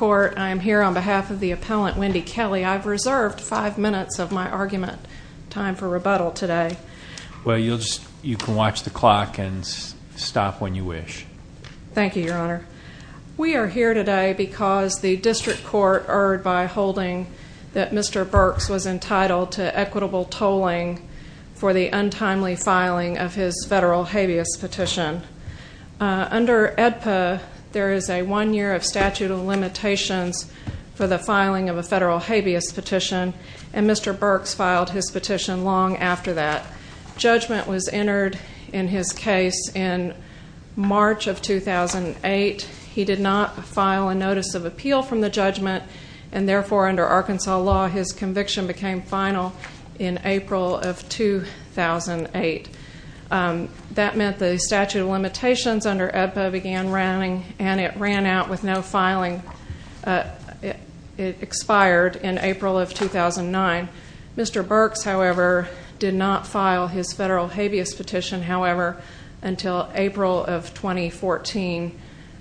I am here on behalf of the appellant, Wendy Kelley. I've reserved five minutes of my argument time for rebuttal today. Well, you can watch the clock and stop when you wish. Thank you, Your Honor. We are here today because the district court erred by holding that Mr. Burks was entitled to equitable tolling for the untimely filing of his federal habeas petition. Under AEDPA, there is a one-year statute of limitations for the filing of a federal habeas petition, and Mr. Burks filed his petition long after that. Judgment was entered in his case in March of 2008. He did not file a notice of appeal from the judgment, and therefore, under Arkansas law, his conviction became final in April of 2008. That meant the statute of limitations under AEDPA began running, and it ran out with no filing. It expired in April of 2009. Mr. Burks, however, did not file his federal habeas petition, however, until April of 2014,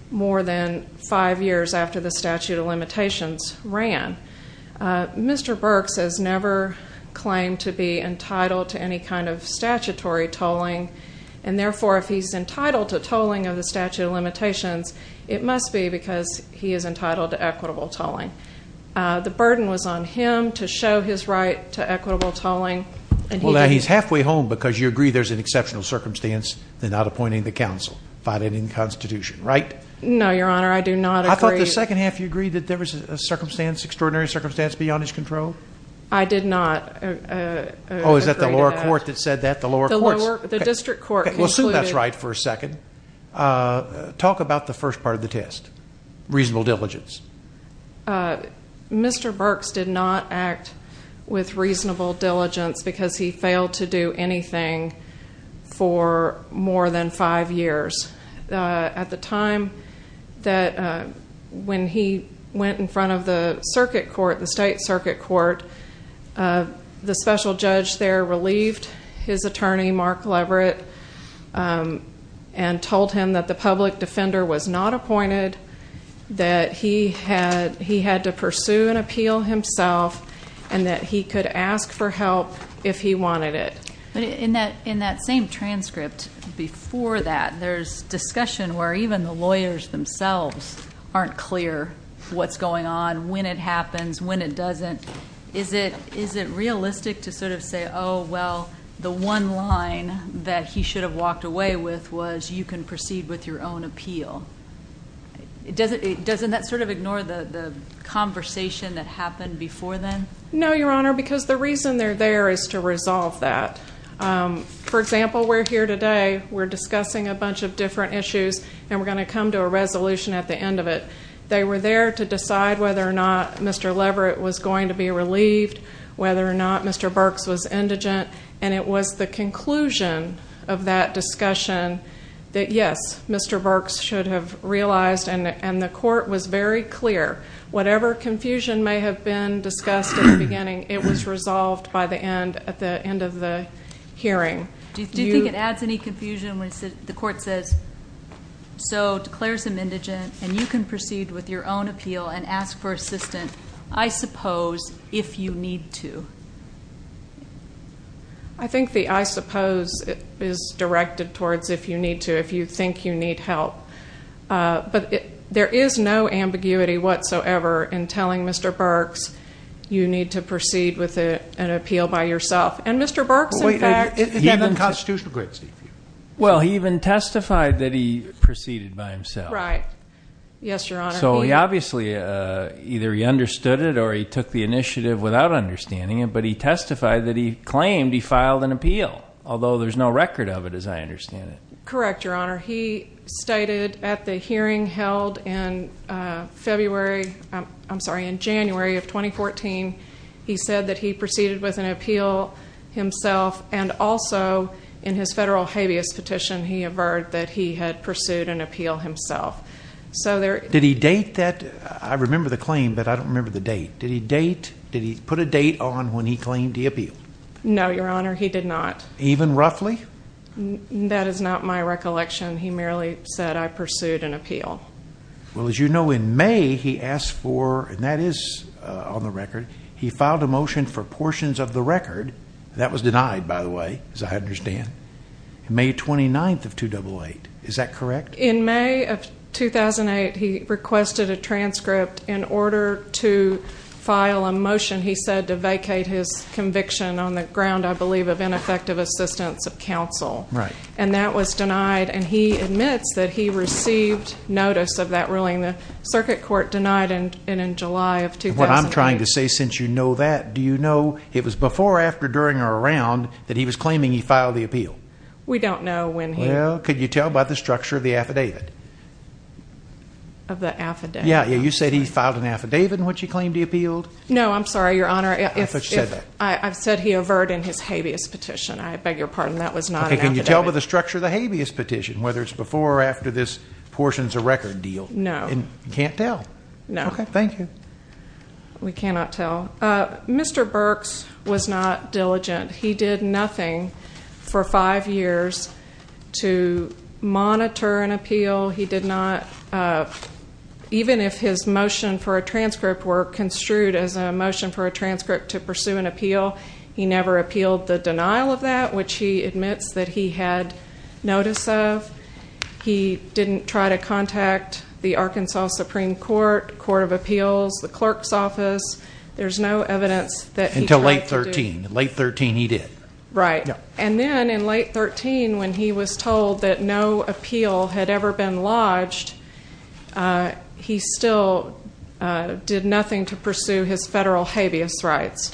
more than five years after the statute of limitations ran. Mr. Burks has never claimed to be entitled to any kind of statutory tolling, and therefore, if he's entitled to tolling of the statute of limitations, it must be because he is entitled to equitable tolling. The burden was on him to show his right to equitable tolling. Well, now, he's halfway home because you agree there's an exceptional circumstance in not appointing the counsel, find it in the Constitution, right? No, Your Honor, I do not agree. I thought the second half you agreed that there was a circumstance, extraordinary circumstance beyond his control. I did not agree to that. Oh, is that the lower court that said that? The lower courts. The district court concluded. We'll assume that's right for a second. Talk about the first part of the test, reasonable diligence. Mr. Burks did not act with reasonable diligence because he failed to do anything for more than five years. At the time that when he went in front of the circuit court, the state circuit court, the special judge there relieved his attorney, Mark Leverett, and told him that the public defender was not appointed, that he had to pursue an appeal himself, and that he could ask for help if he wanted it. But in that same transcript, before that, there's discussion where even the lawyers themselves aren't clear what's going on, when it happens, when it doesn't. Is it realistic to sort of say, oh, well, the one line that he should have walked away with was you can proceed with your own appeal? Doesn't that sort of ignore the conversation that happened before then? No, Your Honor, because the reason they're there is to resolve that. For example, we're here today. We're discussing a bunch of different issues, and we're going to come to a resolution at the end of it. They were there to decide whether or not Mr. Leverett was going to be relieved, whether or not Mr. Burks was indigent. And it was the conclusion of that discussion that, yes, Mr. Burks should have realized, and the court was very clear. Whatever confusion may have been discussed at the beginning, it was resolved by the end, at the end of the hearing. Do you think it adds any confusion when the court says, so declare some indigent, and you can proceed with your own appeal and ask for assistance, I suppose, if you need to? I think the I suppose is directed towards if you need to, if you think you need help. But there is no ambiguity whatsoever in telling Mr. Burks you need to proceed with an appeal by yourself. And Mr. Burks, in fact, he even testified that he proceeded by himself. Right. Yes, Your Honor. So he obviously, either he understood it or he took the initiative without understanding it. But he testified that he claimed he filed an appeal, although there's no record of it as I understand it. Correct, Your Honor. He stated at the hearing held in February, I'm sorry, in January of 2014, he said that he proceeded with an appeal himself. And also, in his federal habeas petition, he averred that he had pursued an appeal himself. Did he date that? I remember the claim, but I don't remember the date. Did he put a date on when he claimed he appealed? No, Your Honor, he did not. Even roughly? That is not my recollection. He merely said, I pursued an appeal. Well, as you know, in May, he asked for, and that is on the record, he filed a motion for portions of the record. That was denied, by the way, as I understand. May 29th of 2008. Is that correct? In May of 2008, he requested a transcript. In order to file a motion, he said to vacate his conviction on the ground, I believe, of ineffective assistance of counsel. Right. And that was denied, and he admits that he received notice of that ruling. The circuit court denied it in July of 2008. What I'm trying to say, since you know that, do you know it was before, after, during, or around that he was claiming he filed the appeal? We don't know when he. Well, could you tell by the structure of the affidavit? Of the affidavit? Yeah, you said he filed an affidavit in which he claimed he appealed? No, I'm sorry, Your Honor. I thought you said that. I've said he averred in his habeas petition. I beg your pardon, that was not an affidavit. Okay, can you tell by the structure of the habeas petition, whether it's before or after this portions of record deal? No. You can't tell? No. Okay, thank you. We cannot tell. Mr. Burks was not diligent. He did nothing for five years to monitor an appeal. He did not, even if his motion for a transcript were construed as a motion for a transcript to pursue an appeal, he never appealed the denial of that, which he admits that he had notice of. He didn't try to contact the Arkansas Supreme Court, the Court of Appeals, the clerk's office. There's no evidence that he tried to do. In late 13, he did. Right. And then in late 13, when he was told that no appeal had ever been lodged, he still did nothing to pursue his federal habeas rights.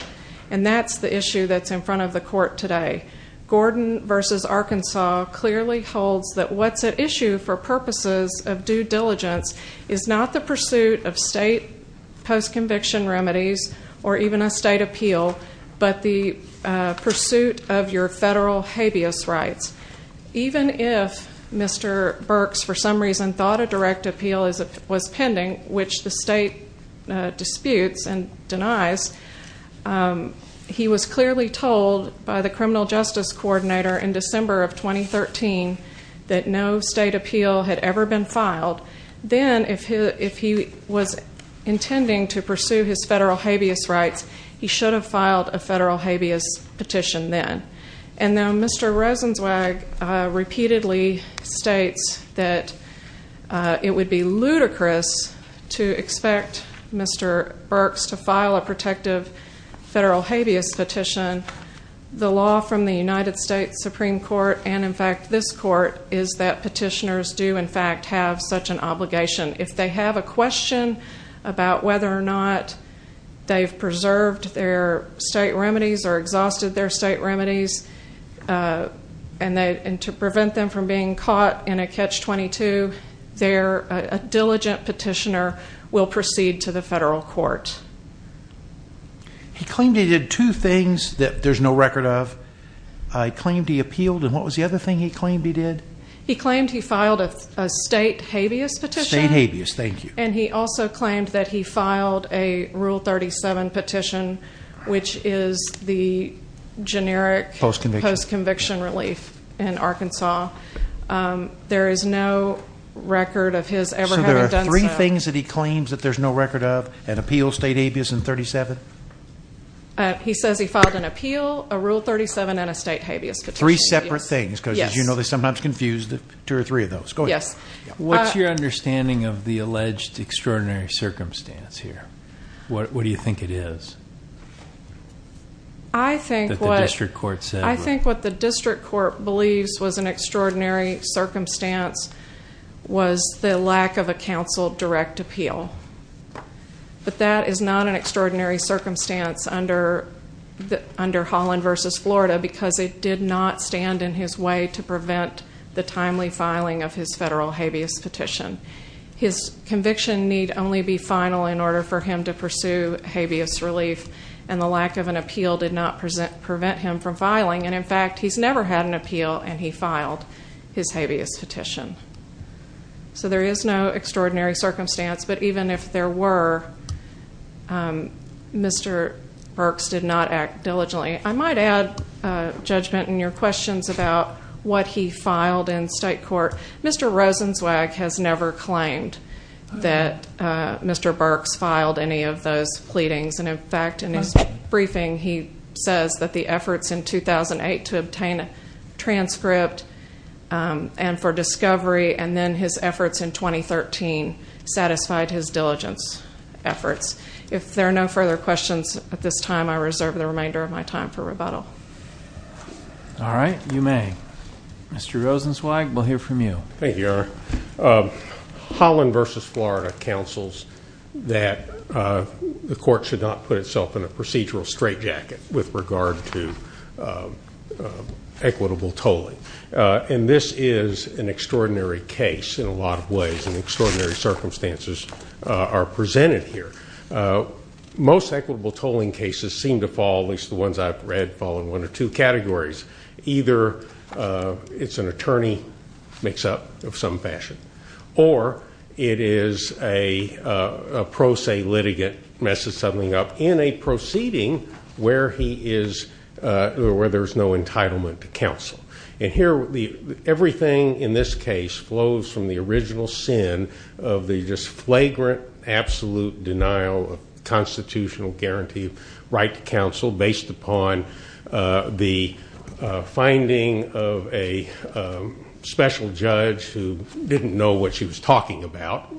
And that's the issue that's in front of the court today. Gordon v. Arkansas clearly holds that what's at issue for purposes of due diligence is not the pursuit of state post-conviction remedies or even a state appeal, but the pursuit of your federal habeas rights. Even if Mr. Burks for some reason thought a direct appeal was pending, which the state disputes and denies, he was clearly told by the criminal justice coordinator in December of 2013 that no state appeal had ever been filed. Then if he was intending to pursue his federal habeas rights, he should have filed a federal habeas petition then. And now Mr. Rosenzweig repeatedly states that it would be ludicrous to expect Mr. Burks to file a protective federal habeas petition. The law from the United States Supreme Court and, in fact, this court is that petitioners do, in fact, have such an obligation. If they have a question about whether or not they've preserved their state remedies or exhausted their state remedies and to prevent them from being caught in a Catch-22, a diligent petitioner will proceed to the federal court. He claimed he did two things that there's no record of. He claimed he appealed, and what was the other thing he claimed he did? He claimed he filed a state habeas petition. State habeas, thank you. And he also claimed that he filed a Rule 37 petition, which is the generic post-conviction relief in Arkansas. There is no record of his ever having done so. So there are three things that he claims that there's no record of, an appeal, state habeas, and 37? He says he filed an appeal, a Rule 37, and a state habeas petition. Three separate things because, as you know, they sometimes confuse two or three of those. Go ahead. What's your understanding of the alleged extraordinary circumstance here? What do you think it is that the district court said? extraordinary circumstance was the lack of a counsel direct appeal. But that is not an extraordinary circumstance under Holland v. Florida because it did not stand in his way to prevent the timely filing of his federal habeas petition. His conviction need only be final in order for him to pursue habeas relief, and the lack of an appeal did not prevent him from filing. And, in fact, he's never had an appeal, and he filed his habeas petition. So there is no extraordinary circumstance, but even if there were, Mr. Burks did not act diligently. I might add, Judgment, in your questions about what he filed in state court, Mr. Rosenzweig has never claimed that Mr. Burks filed any of those pleadings. And, in fact, in his briefing he says that the efforts in 2008 to obtain a transcript and for discovery and then his efforts in 2013 satisfied his diligence efforts. If there are no further questions at this time, I reserve the remainder of my time for rebuttal. All right. You may. Mr. Rosenzweig, we'll hear from you. Thank you. Thank you, Senator. Holland v. Florida counsels that the court should not put itself in a procedural straitjacket with regard to equitable tolling. And this is an extraordinary case in a lot of ways, and extraordinary circumstances are presented here. Most equitable tolling cases seem to fall, at least the ones I've read, fall in one or two categories. Either it's an attorney mix-up of some fashion, or it is a pro se litigant messes something up in a proceeding where there's no entitlement to counsel. And here everything in this case flows from the original sin of the just flagrant, absolute denial of constitutional guarantee of the right to counsel based upon the finding of a special judge who didn't know what she was talking about.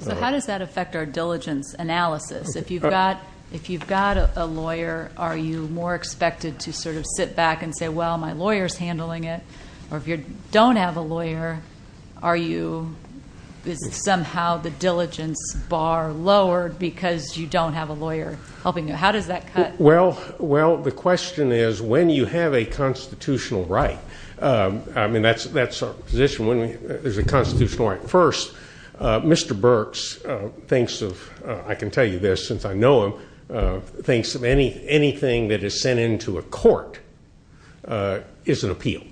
So how does that affect our diligence analysis? If you've got a lawyer, are you more expected to sort of sit back and say, well, my lawyer's handling it? Or if you don't have a lawyer, is it somehow the diligence bar lowered because you don't have a lawyer helping you? How does that cut? Well, the question is, when you have a constitutional right, I mean, that's our position. When there's a constitutional right first, Mr. Burks thinks of, I can tell you this since I know him, thinks of anything that is sent into a court is an appeal.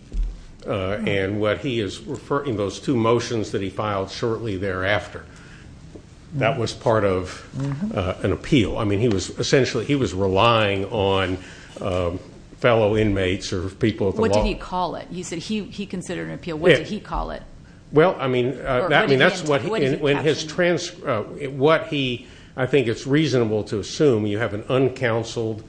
And what he is referring to, those two motions that he filed shortly thereafter, that was part of an appeal. I mean, essentially he was relying on fellow inmates or people at the law. What did he call it? You said he considered it an appeal. What did he call it? Well, I mean, that's what he, I think it's reasonable to assume you have an uncounseled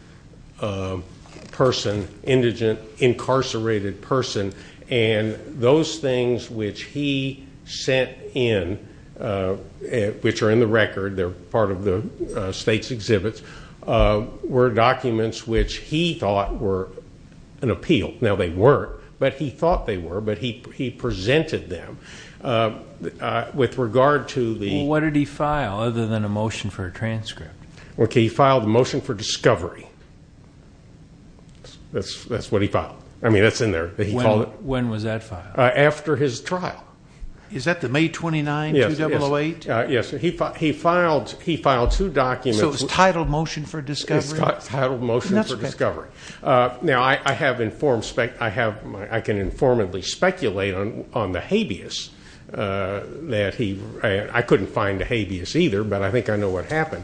person, indigent, incarcerated person. And those things which he sent in, which are in the record, they're part of the state's exhibits, were documents which he thought were an appeal. Now, they weren't, but he thought they were, but he presented them with regard to the- Well, what did he file other than a motion for a transcript? Well, he filed a motion for discovery. That's what he filed. I mean, that's in there. When was that filed? After his trial. Is that the May 29, 2008? Yes. So it's titled motion for discovery? It's titled motion for discovery. Now, I can informally speculate on the habeas that he- I couldn't find a habeas either, but I think I know what happened.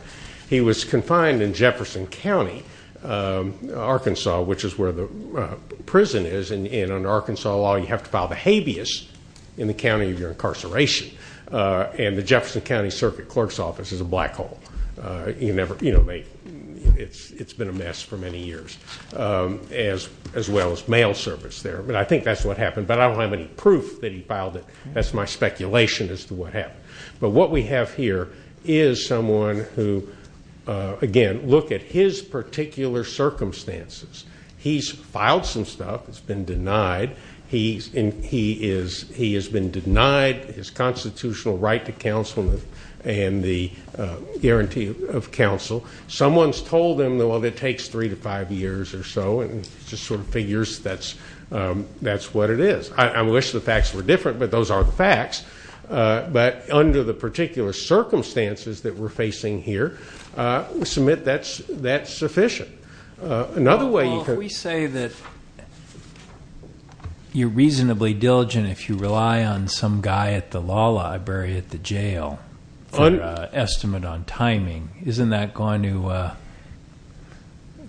He was confined in Jefferson County, Arkansas, which is where the prison is. And under Arkansas law, you have to file the habeas in the county of your incarceration. And the Jefferson County Circuit Clerk's Office is a black hole. It's been a mess for many years, as well as mail service there. But I think that's what happened. But I don't have any proof that he filed it. That's my speculation as to what happened. But what we have here is someone who, again, look at his particular circumstances. He's filed some stuff. It's been denied. He has been denied his constitutional right to counsel and the guarantee of counsel. Someone's told him, well, it takes three to five years or so, and just sort of figures that's what it is. I wish the facts were different, but those aren't the facts. But under the particular circumstances that we're facing here, we submit that's sufficient. Another way you could. Well, if we say that you're reasonably diligent if you rely on some guy at the law library at the jail for an estimate on timing, isn't that going to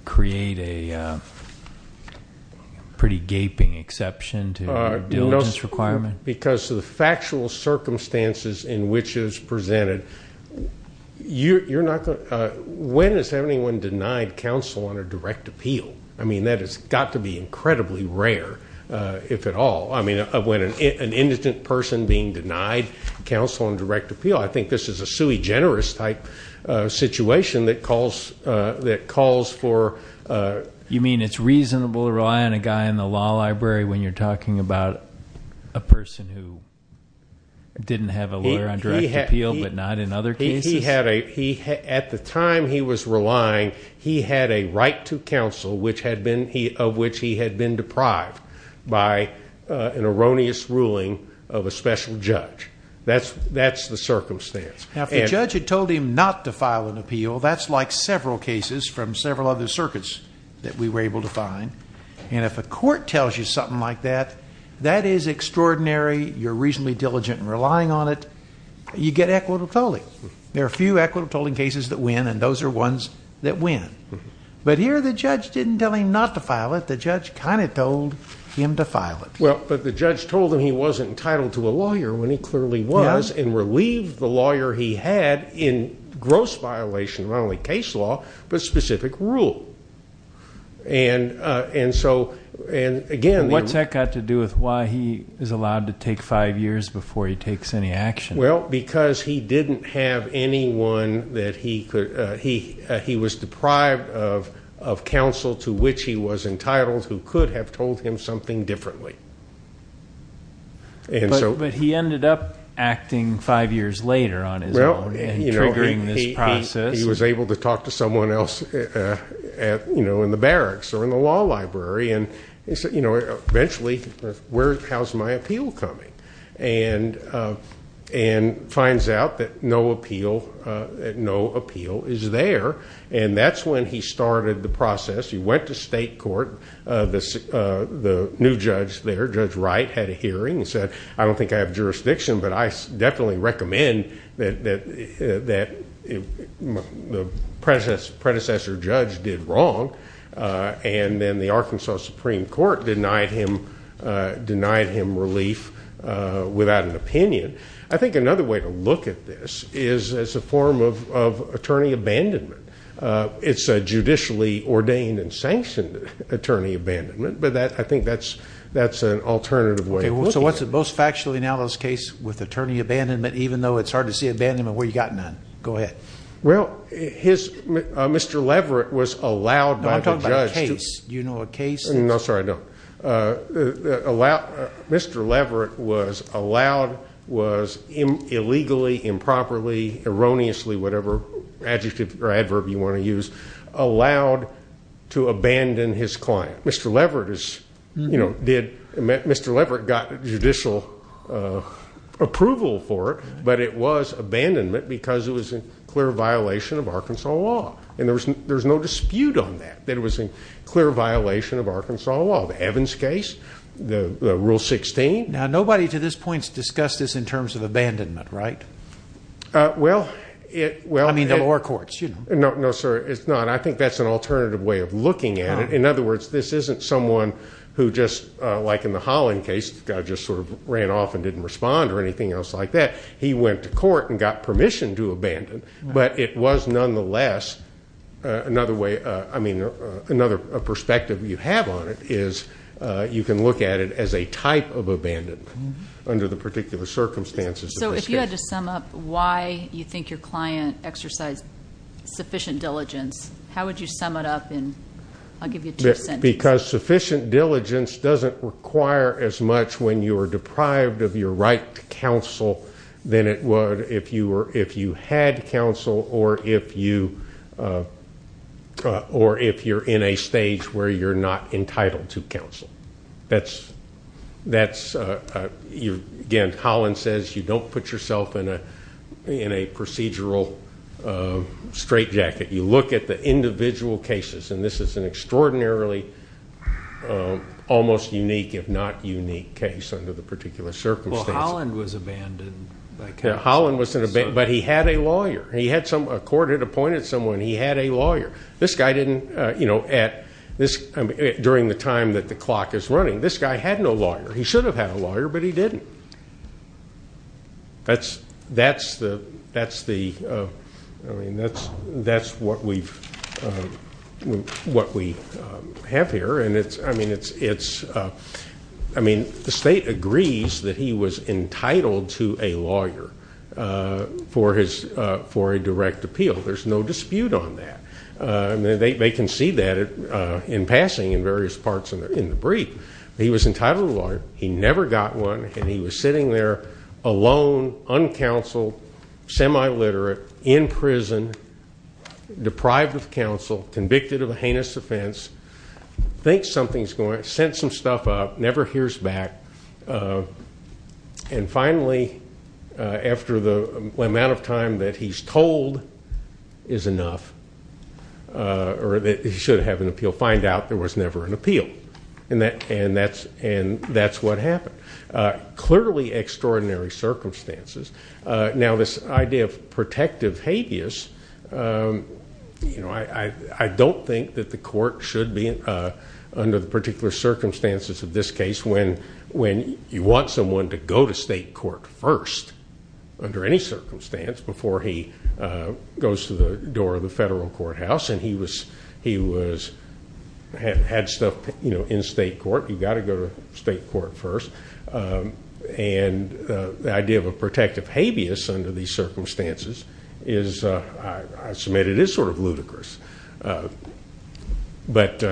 create a pretty gaping exception to your diligence requirement? Because of the factual circumstances in which it is presented, when has anyone denied counsel on a direct appeal? I mean, that has got to be incredibly rare, if at all. I mean, when an indigent person being denied counsel on direct appeal, I think this is a sui generis type situation that calls for. You mean it's reasonable to rely on a guy in the law library when you're talking about a person who didn't have a lawyer on direct appeal, but not in other cases? At the time he was relying, he had a right to counsel of which he had been deprived by an erroneous ruling of a special judge. That's the circumstance. Now, if the judge had told him not to file an appeal, that's like several cases from several other circuits that we were able to find. And if a court tells you something like that, that is extraordinary, you're reasonably diligent in relying on it, you get equitable tolling. There are a few equitable tolling cases that win, and those are ones that win. But here the judge didn't tell him not to file it, the judge kind of told him to file it. Well, but the judge told him he wasn't entitled to a lawyer when he clearly was, and relieved the lawyer he had in gross violation of not only case law, but specific rule. And so, again... What's that got to do with why he is allowed to take five years before he takes any action? Well, because he didn't have anyone that he could, he was deprived of counsel to which he was entitled who could have told him something differently. But he ended up acting five years later on his own and triggering this process. He was able to talk to someone else in the barracks or in the law library, and eventually, how's my appeal coming? And finds out that no appeal is there. And that's when he started the process. He went to state court. The new judge there, Judge Wright, had a hearing and said, I don't think I have jurisdiction, but I definitely recommend that the predecessor judge did wrong. And then the Arkansas Supreme Court denied him relief without an opinion. I think another way to look at this is as a form of attorney abandonment. It's a judicially ordained and sanctioned attorney abandonment, but I think that's an alternative way of looking at it. So what's the most factually analogous case with attorney abandonment, even though it's hard to see abandonment where you've got none? Go ahead. Well, Mr. Leverett was allowed by the judge. No, I'm talking about a case. Do you know a case? No, sorry, no. Mr. Leverett was allowed, was illegally, improperly, erroneously, whatever adjective or adverb you want to use, allowed to abandon his client. Mr. Leverett got judicial approval for it, but it was abandonment because it was a clear violation of Arkansas law. And there's no dispute on that, that it was a clear violation of Arkansas law. The Evans case, the Rule 16. Now, nobody to this point has discussed this in terms of abandonment, right? Well, it... I mean, the lower courts, you know. No, sir, it's not. I think that's an alternative way of looking at it. In other words, this isn't someone who just, like in the Holland case, the guy just sort of ran off and didn't respond or anything else like that. He went to court and got permission to abandon. But it was nonetheless another way, I mean, another perspective you have on it is you can look at it as a type of abandonment under the particular circumstances. So if you had to sum up why you think your client exercised sufficient diligence, how would you sum it up in, I'll give you two sentences. Because sufficient diligence doesn't require as much when you are deprived of your right to counsel than it would if you had counsel or if you're in a stage where you're not entitled to counsel. That's... Again, Holland says you don't put yourself in a procedural straitjacket. You look at the individual cases, and this is an extraordinarily almost unique, if not unique, case under the particular circumstances. Well, Holland was abandoned by counsel. Holland wasn't abandoned, but he had a lawyer. A court had appointed someone. He had a lawyer. This guy didn't, you know, at this, during the time that the clock is running, this guy had no lawyer. He should have had a lawyer, but he didn't. That's the, I mean, that's what we have here. And it's, I mean, it's, I mean, the state agrees that he was entitled to a lawyer for a direct appeal. There's no dispute on that. They can see that in passing in various parts in the brief. He was entitled to a lawyer. He never got one, and he was sitting there alone, uncounseled, semi-literate, in prison, deprived of counsel, convicted of a heinous offense, thinks something's going on, sends some stuff up, never hears back. And finally, after the amount of time that he's told is enough, or that he should have an appeal, find out there was never an appeal, and that's what happened. Clearly extraordinary circumstances. Now, this idea of protective habeas, you know, I don't think that the court should be, under the particular circumstances of this case, when you want someone to go to state court first, under any circumstance, before he goes to the door of the federal courthouse, and he was, had stuff, you know, in state court, you've got to go to state court first. And the idea of a protective habeas under these circumstances is, I submit, it is sort of ludicrous. But...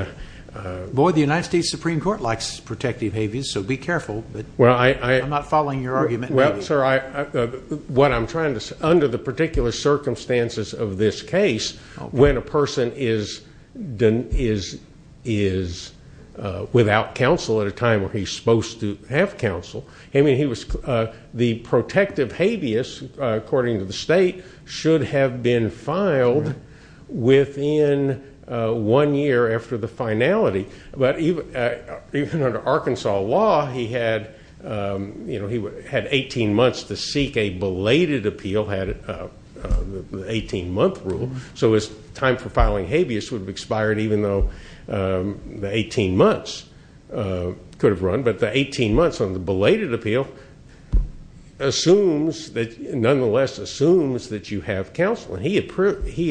Boy, the United States Supreme Court likes protective habeas, so be careful. I'm not following your argument. Well, sir, what I'm trying to say, under the particular circumstances of this case, when a person is without counsel at a time where he's supposed to have counsel, the protective habeas, according to the state, should have been filed within one year after the finality. But even under Arkansas law, he had 18 months to seek a belated appeal, had an 18-month rule, so his time for filing habeas would have expired even though the 18 months could have run. But the 18 months on the belated appeal assumes that, nonetheless, assumes that you have counsel. And he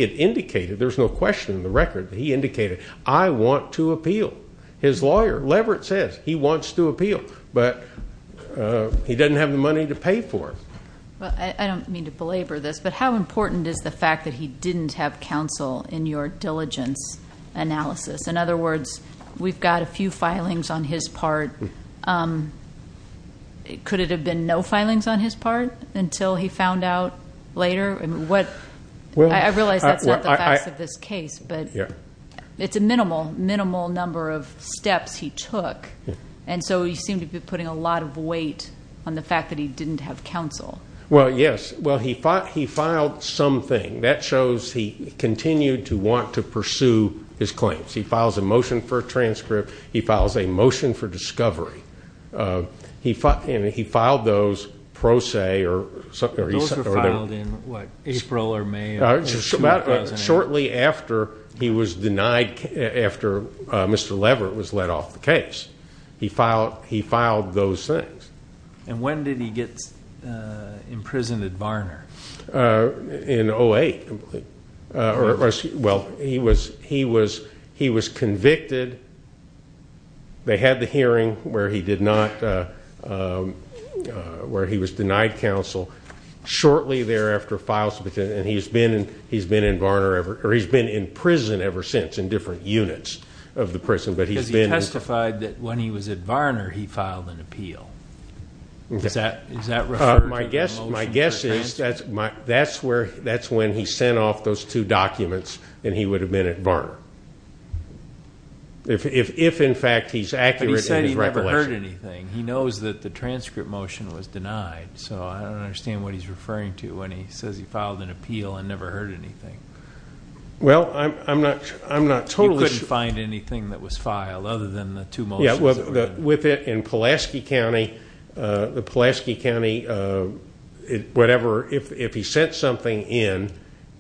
had indicated, there's no question in the record, that he indicated, I want to appeal. His lawyer, Leverett, says he wants to appeal, but he doesn't have the money to pay for it. Well, I don't mean to belabor this, but how important is the fact that he didn't have counsel in your diligence analysis? In other words, we've got a few filings on his part. Could it have been no filings on his part until he found out later? I realize that's not the facts of this case, but it's a minimal, minimal number of steps he took. And so you seem to be putting a lot of weight on the fact that he didn't have counsel. Well, yes. Well, he filed something. That shows he continued to want to pursue his claims. He files a motion for a transcript. He files a motion for discovery. And he filed those pro se. Those were filed in, what, April or May? Shortly after he was denied, after Mr. Leverett was let off the case. And when did he get imprisoned at Varner? In 08. Well, he was convicted. They had the hearing where he did not, where he was denied counsel. Shortly thereafter, he's been in prison ever since in different units of the prison. Because he testified that when he was at Varner, he filed an appeal. Is that referring to the motion for a transcript? My guess is that's when he sent off those two documents and he would have been at Varner. If, in fact, he's accurate in his recollection. But he said he never heard anything. He knows that the transcript motion was denied. So I don't understand what he's referring to when he says he filed an appeal and never heard anything. Well, I'm not totally sure. He couldn't find anything that was filed other than the two motions. With it in Pulaski County, the Pulaski County, whatever, if he sent something in,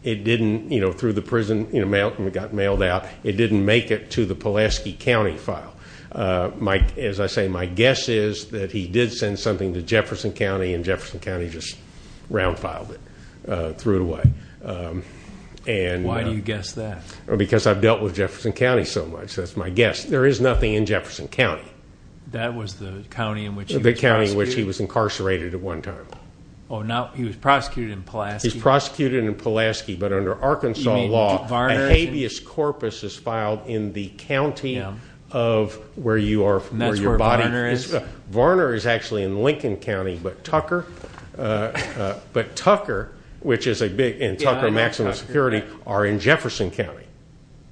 it didn't, you know, through the prison, it got mailed out, it didn't make it to the Pulaski County file. As I say, my guess is that he did send something to Jefferson County and Jefferson County just round-filed it, threw it away. Why do you guess that? Because I've dealt with Jefferson County so much, that's my guess. There is nothing in Jefferson County. That was the county in which he was prosecuted? The county in which he was incarcerated at one time. Oh, now he was prosecuted in Pulaski. He was prosecuted in Pulaski. But under Arkansas law, a habeas corpus is filed in the county of where you are, where your body is. And that's where Varner is? Varner is actually in Lincoln County, but Tucker, which is a big, and Tucker, maximum security, are in Jefferson County.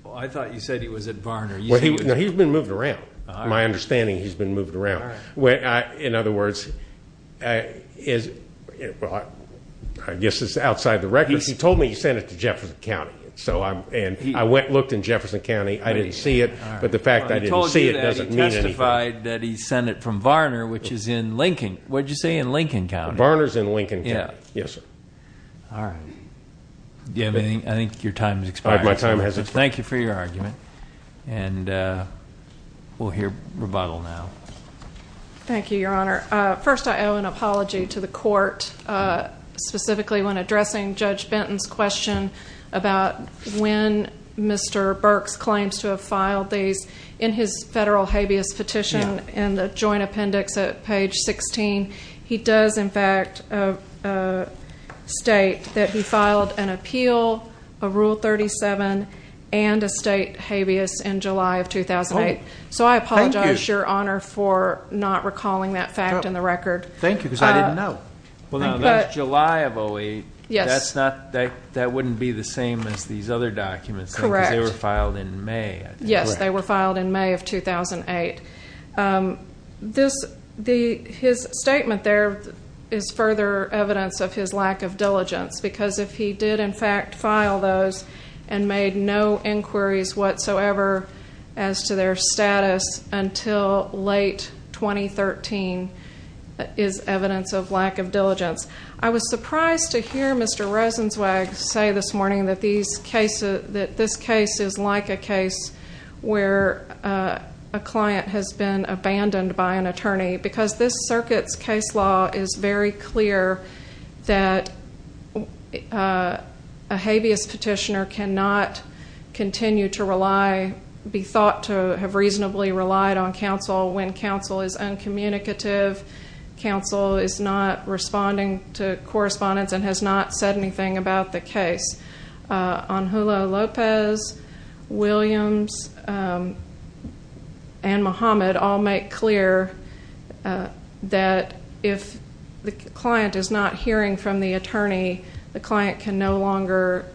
Well, I thought you said he was at Varner. No, he's been moved around. My understanding, he's been moved around. In other words, I guess it's outside the records. He told me he sent it to Jefferson County, and I went and looked in Jefferson County. I didn't see it, but the fact that I didn't see it doesn't mean anything. He told you that he testified that he sent it from Varner, which is in Lincoln. What did you say, in Lincoln County? Varner's in Lincoln County, yes, sir. All right. I think your time has expired. All right, my time has expired. Thank you for your argument, and we'll hear rebuttal now. Thank you, Your Honor. First, I owe an apology to the court, specifically when addressing Judge Benton's question about when Mr. Burks claims to have filed these. And a state habeas in July of 2008. So I apologize, Your Honor, for not recalling that fact in the record. Thank you, because I didn't know. Well, now, that's July of 08. That wouldn't be the same as these other documents, because they were filed in May. Yes, they were filed in May of 2008. His statement there is further evidence of his lack of diligence, because if he did, in fact, file those and made no inquiries whatsoever as to their status until late 2013, that is evidence of lack of diligence. I was surprised to hear Mr. Rosenzweig say this morning that this case is like a case where a client has been abandoned by an attorney, because this circuit's case law is very clear that a habeas petitioner cannot continue to rely, be thought to have reasonably relied on counsel when counsel is uncommunicative, counsel is not responding to correspondence and has not said anything about the case. Angelo Lopez, Williams, and Muhammad all make clear that if the client is not hearing from the attorney, the client can no longer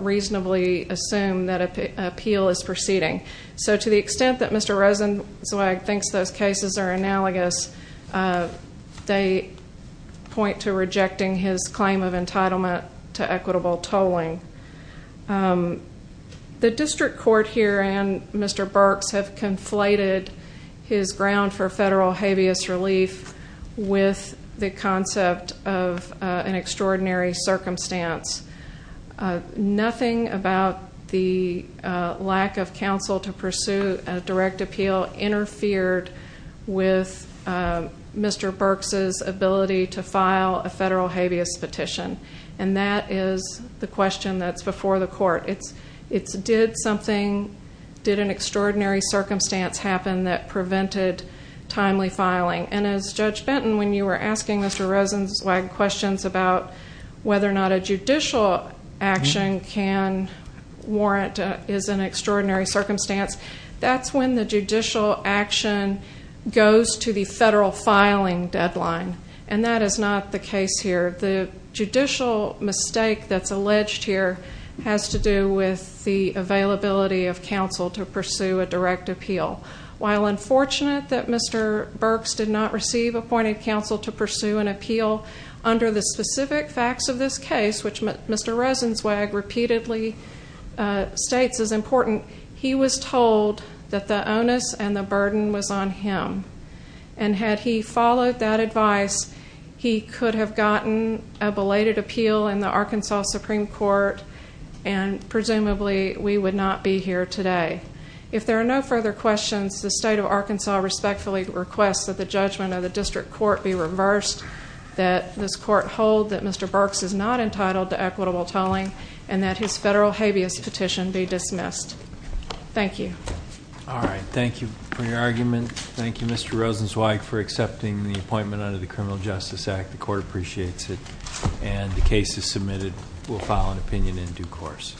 reasonably assume that an appeal is proceeding. So to the extent that Mr. Rosenzweig thinks those cases are analogous, they point to rejecting his claim of entitlement to equitable tolling. The district court here and Mr. Burks have conflated his ground for federal habeas relief with the concept of an extraordinary circumstance. Nothing about the lack of counsel to pursue a direct appeal interfered with Mr. Burks' ability to file a federal habeas petition, and that is the question that's before the court. It's did something, did an extraordinary circumstance happen that prevented timely filing? And as Judge Benton, when you were asking Mr. Rosenzweig questions about whether or not a judicial action can warrant is an extraordinary circumstance, that's when the judicial action goes to the federal filing deadline, and that is not the case here. The judicial mistake that's alleged here has to do with the availability of counsel to pursue a direct appeal. While unfortunate that Mr. Burks did not receive appointed counsel to pursue an appeal under the specific facts of this case, which Mr. Rosenzweig repeatedly states is important, he was told that the onus and the burden was on him. And had he followed that advice, he could have gotten a belated appeal in the Arkansas Supreme Court, and presumably we would not be here today. If there are no further questions, the state of Arkansas respectfully requests that the judgment of the district court be reversed, that this court hold that Mr. Burks is not entitled to equitable tolling, and that his federal habeas petition be dismissed. Thank you. All right. Thank you for your argument. Thank you, Mr. Rosenzweig, for accepting the appointment under the Criminal Justice Act. The court appreciates it, and the case is submitted. We'll file an opinion in due course.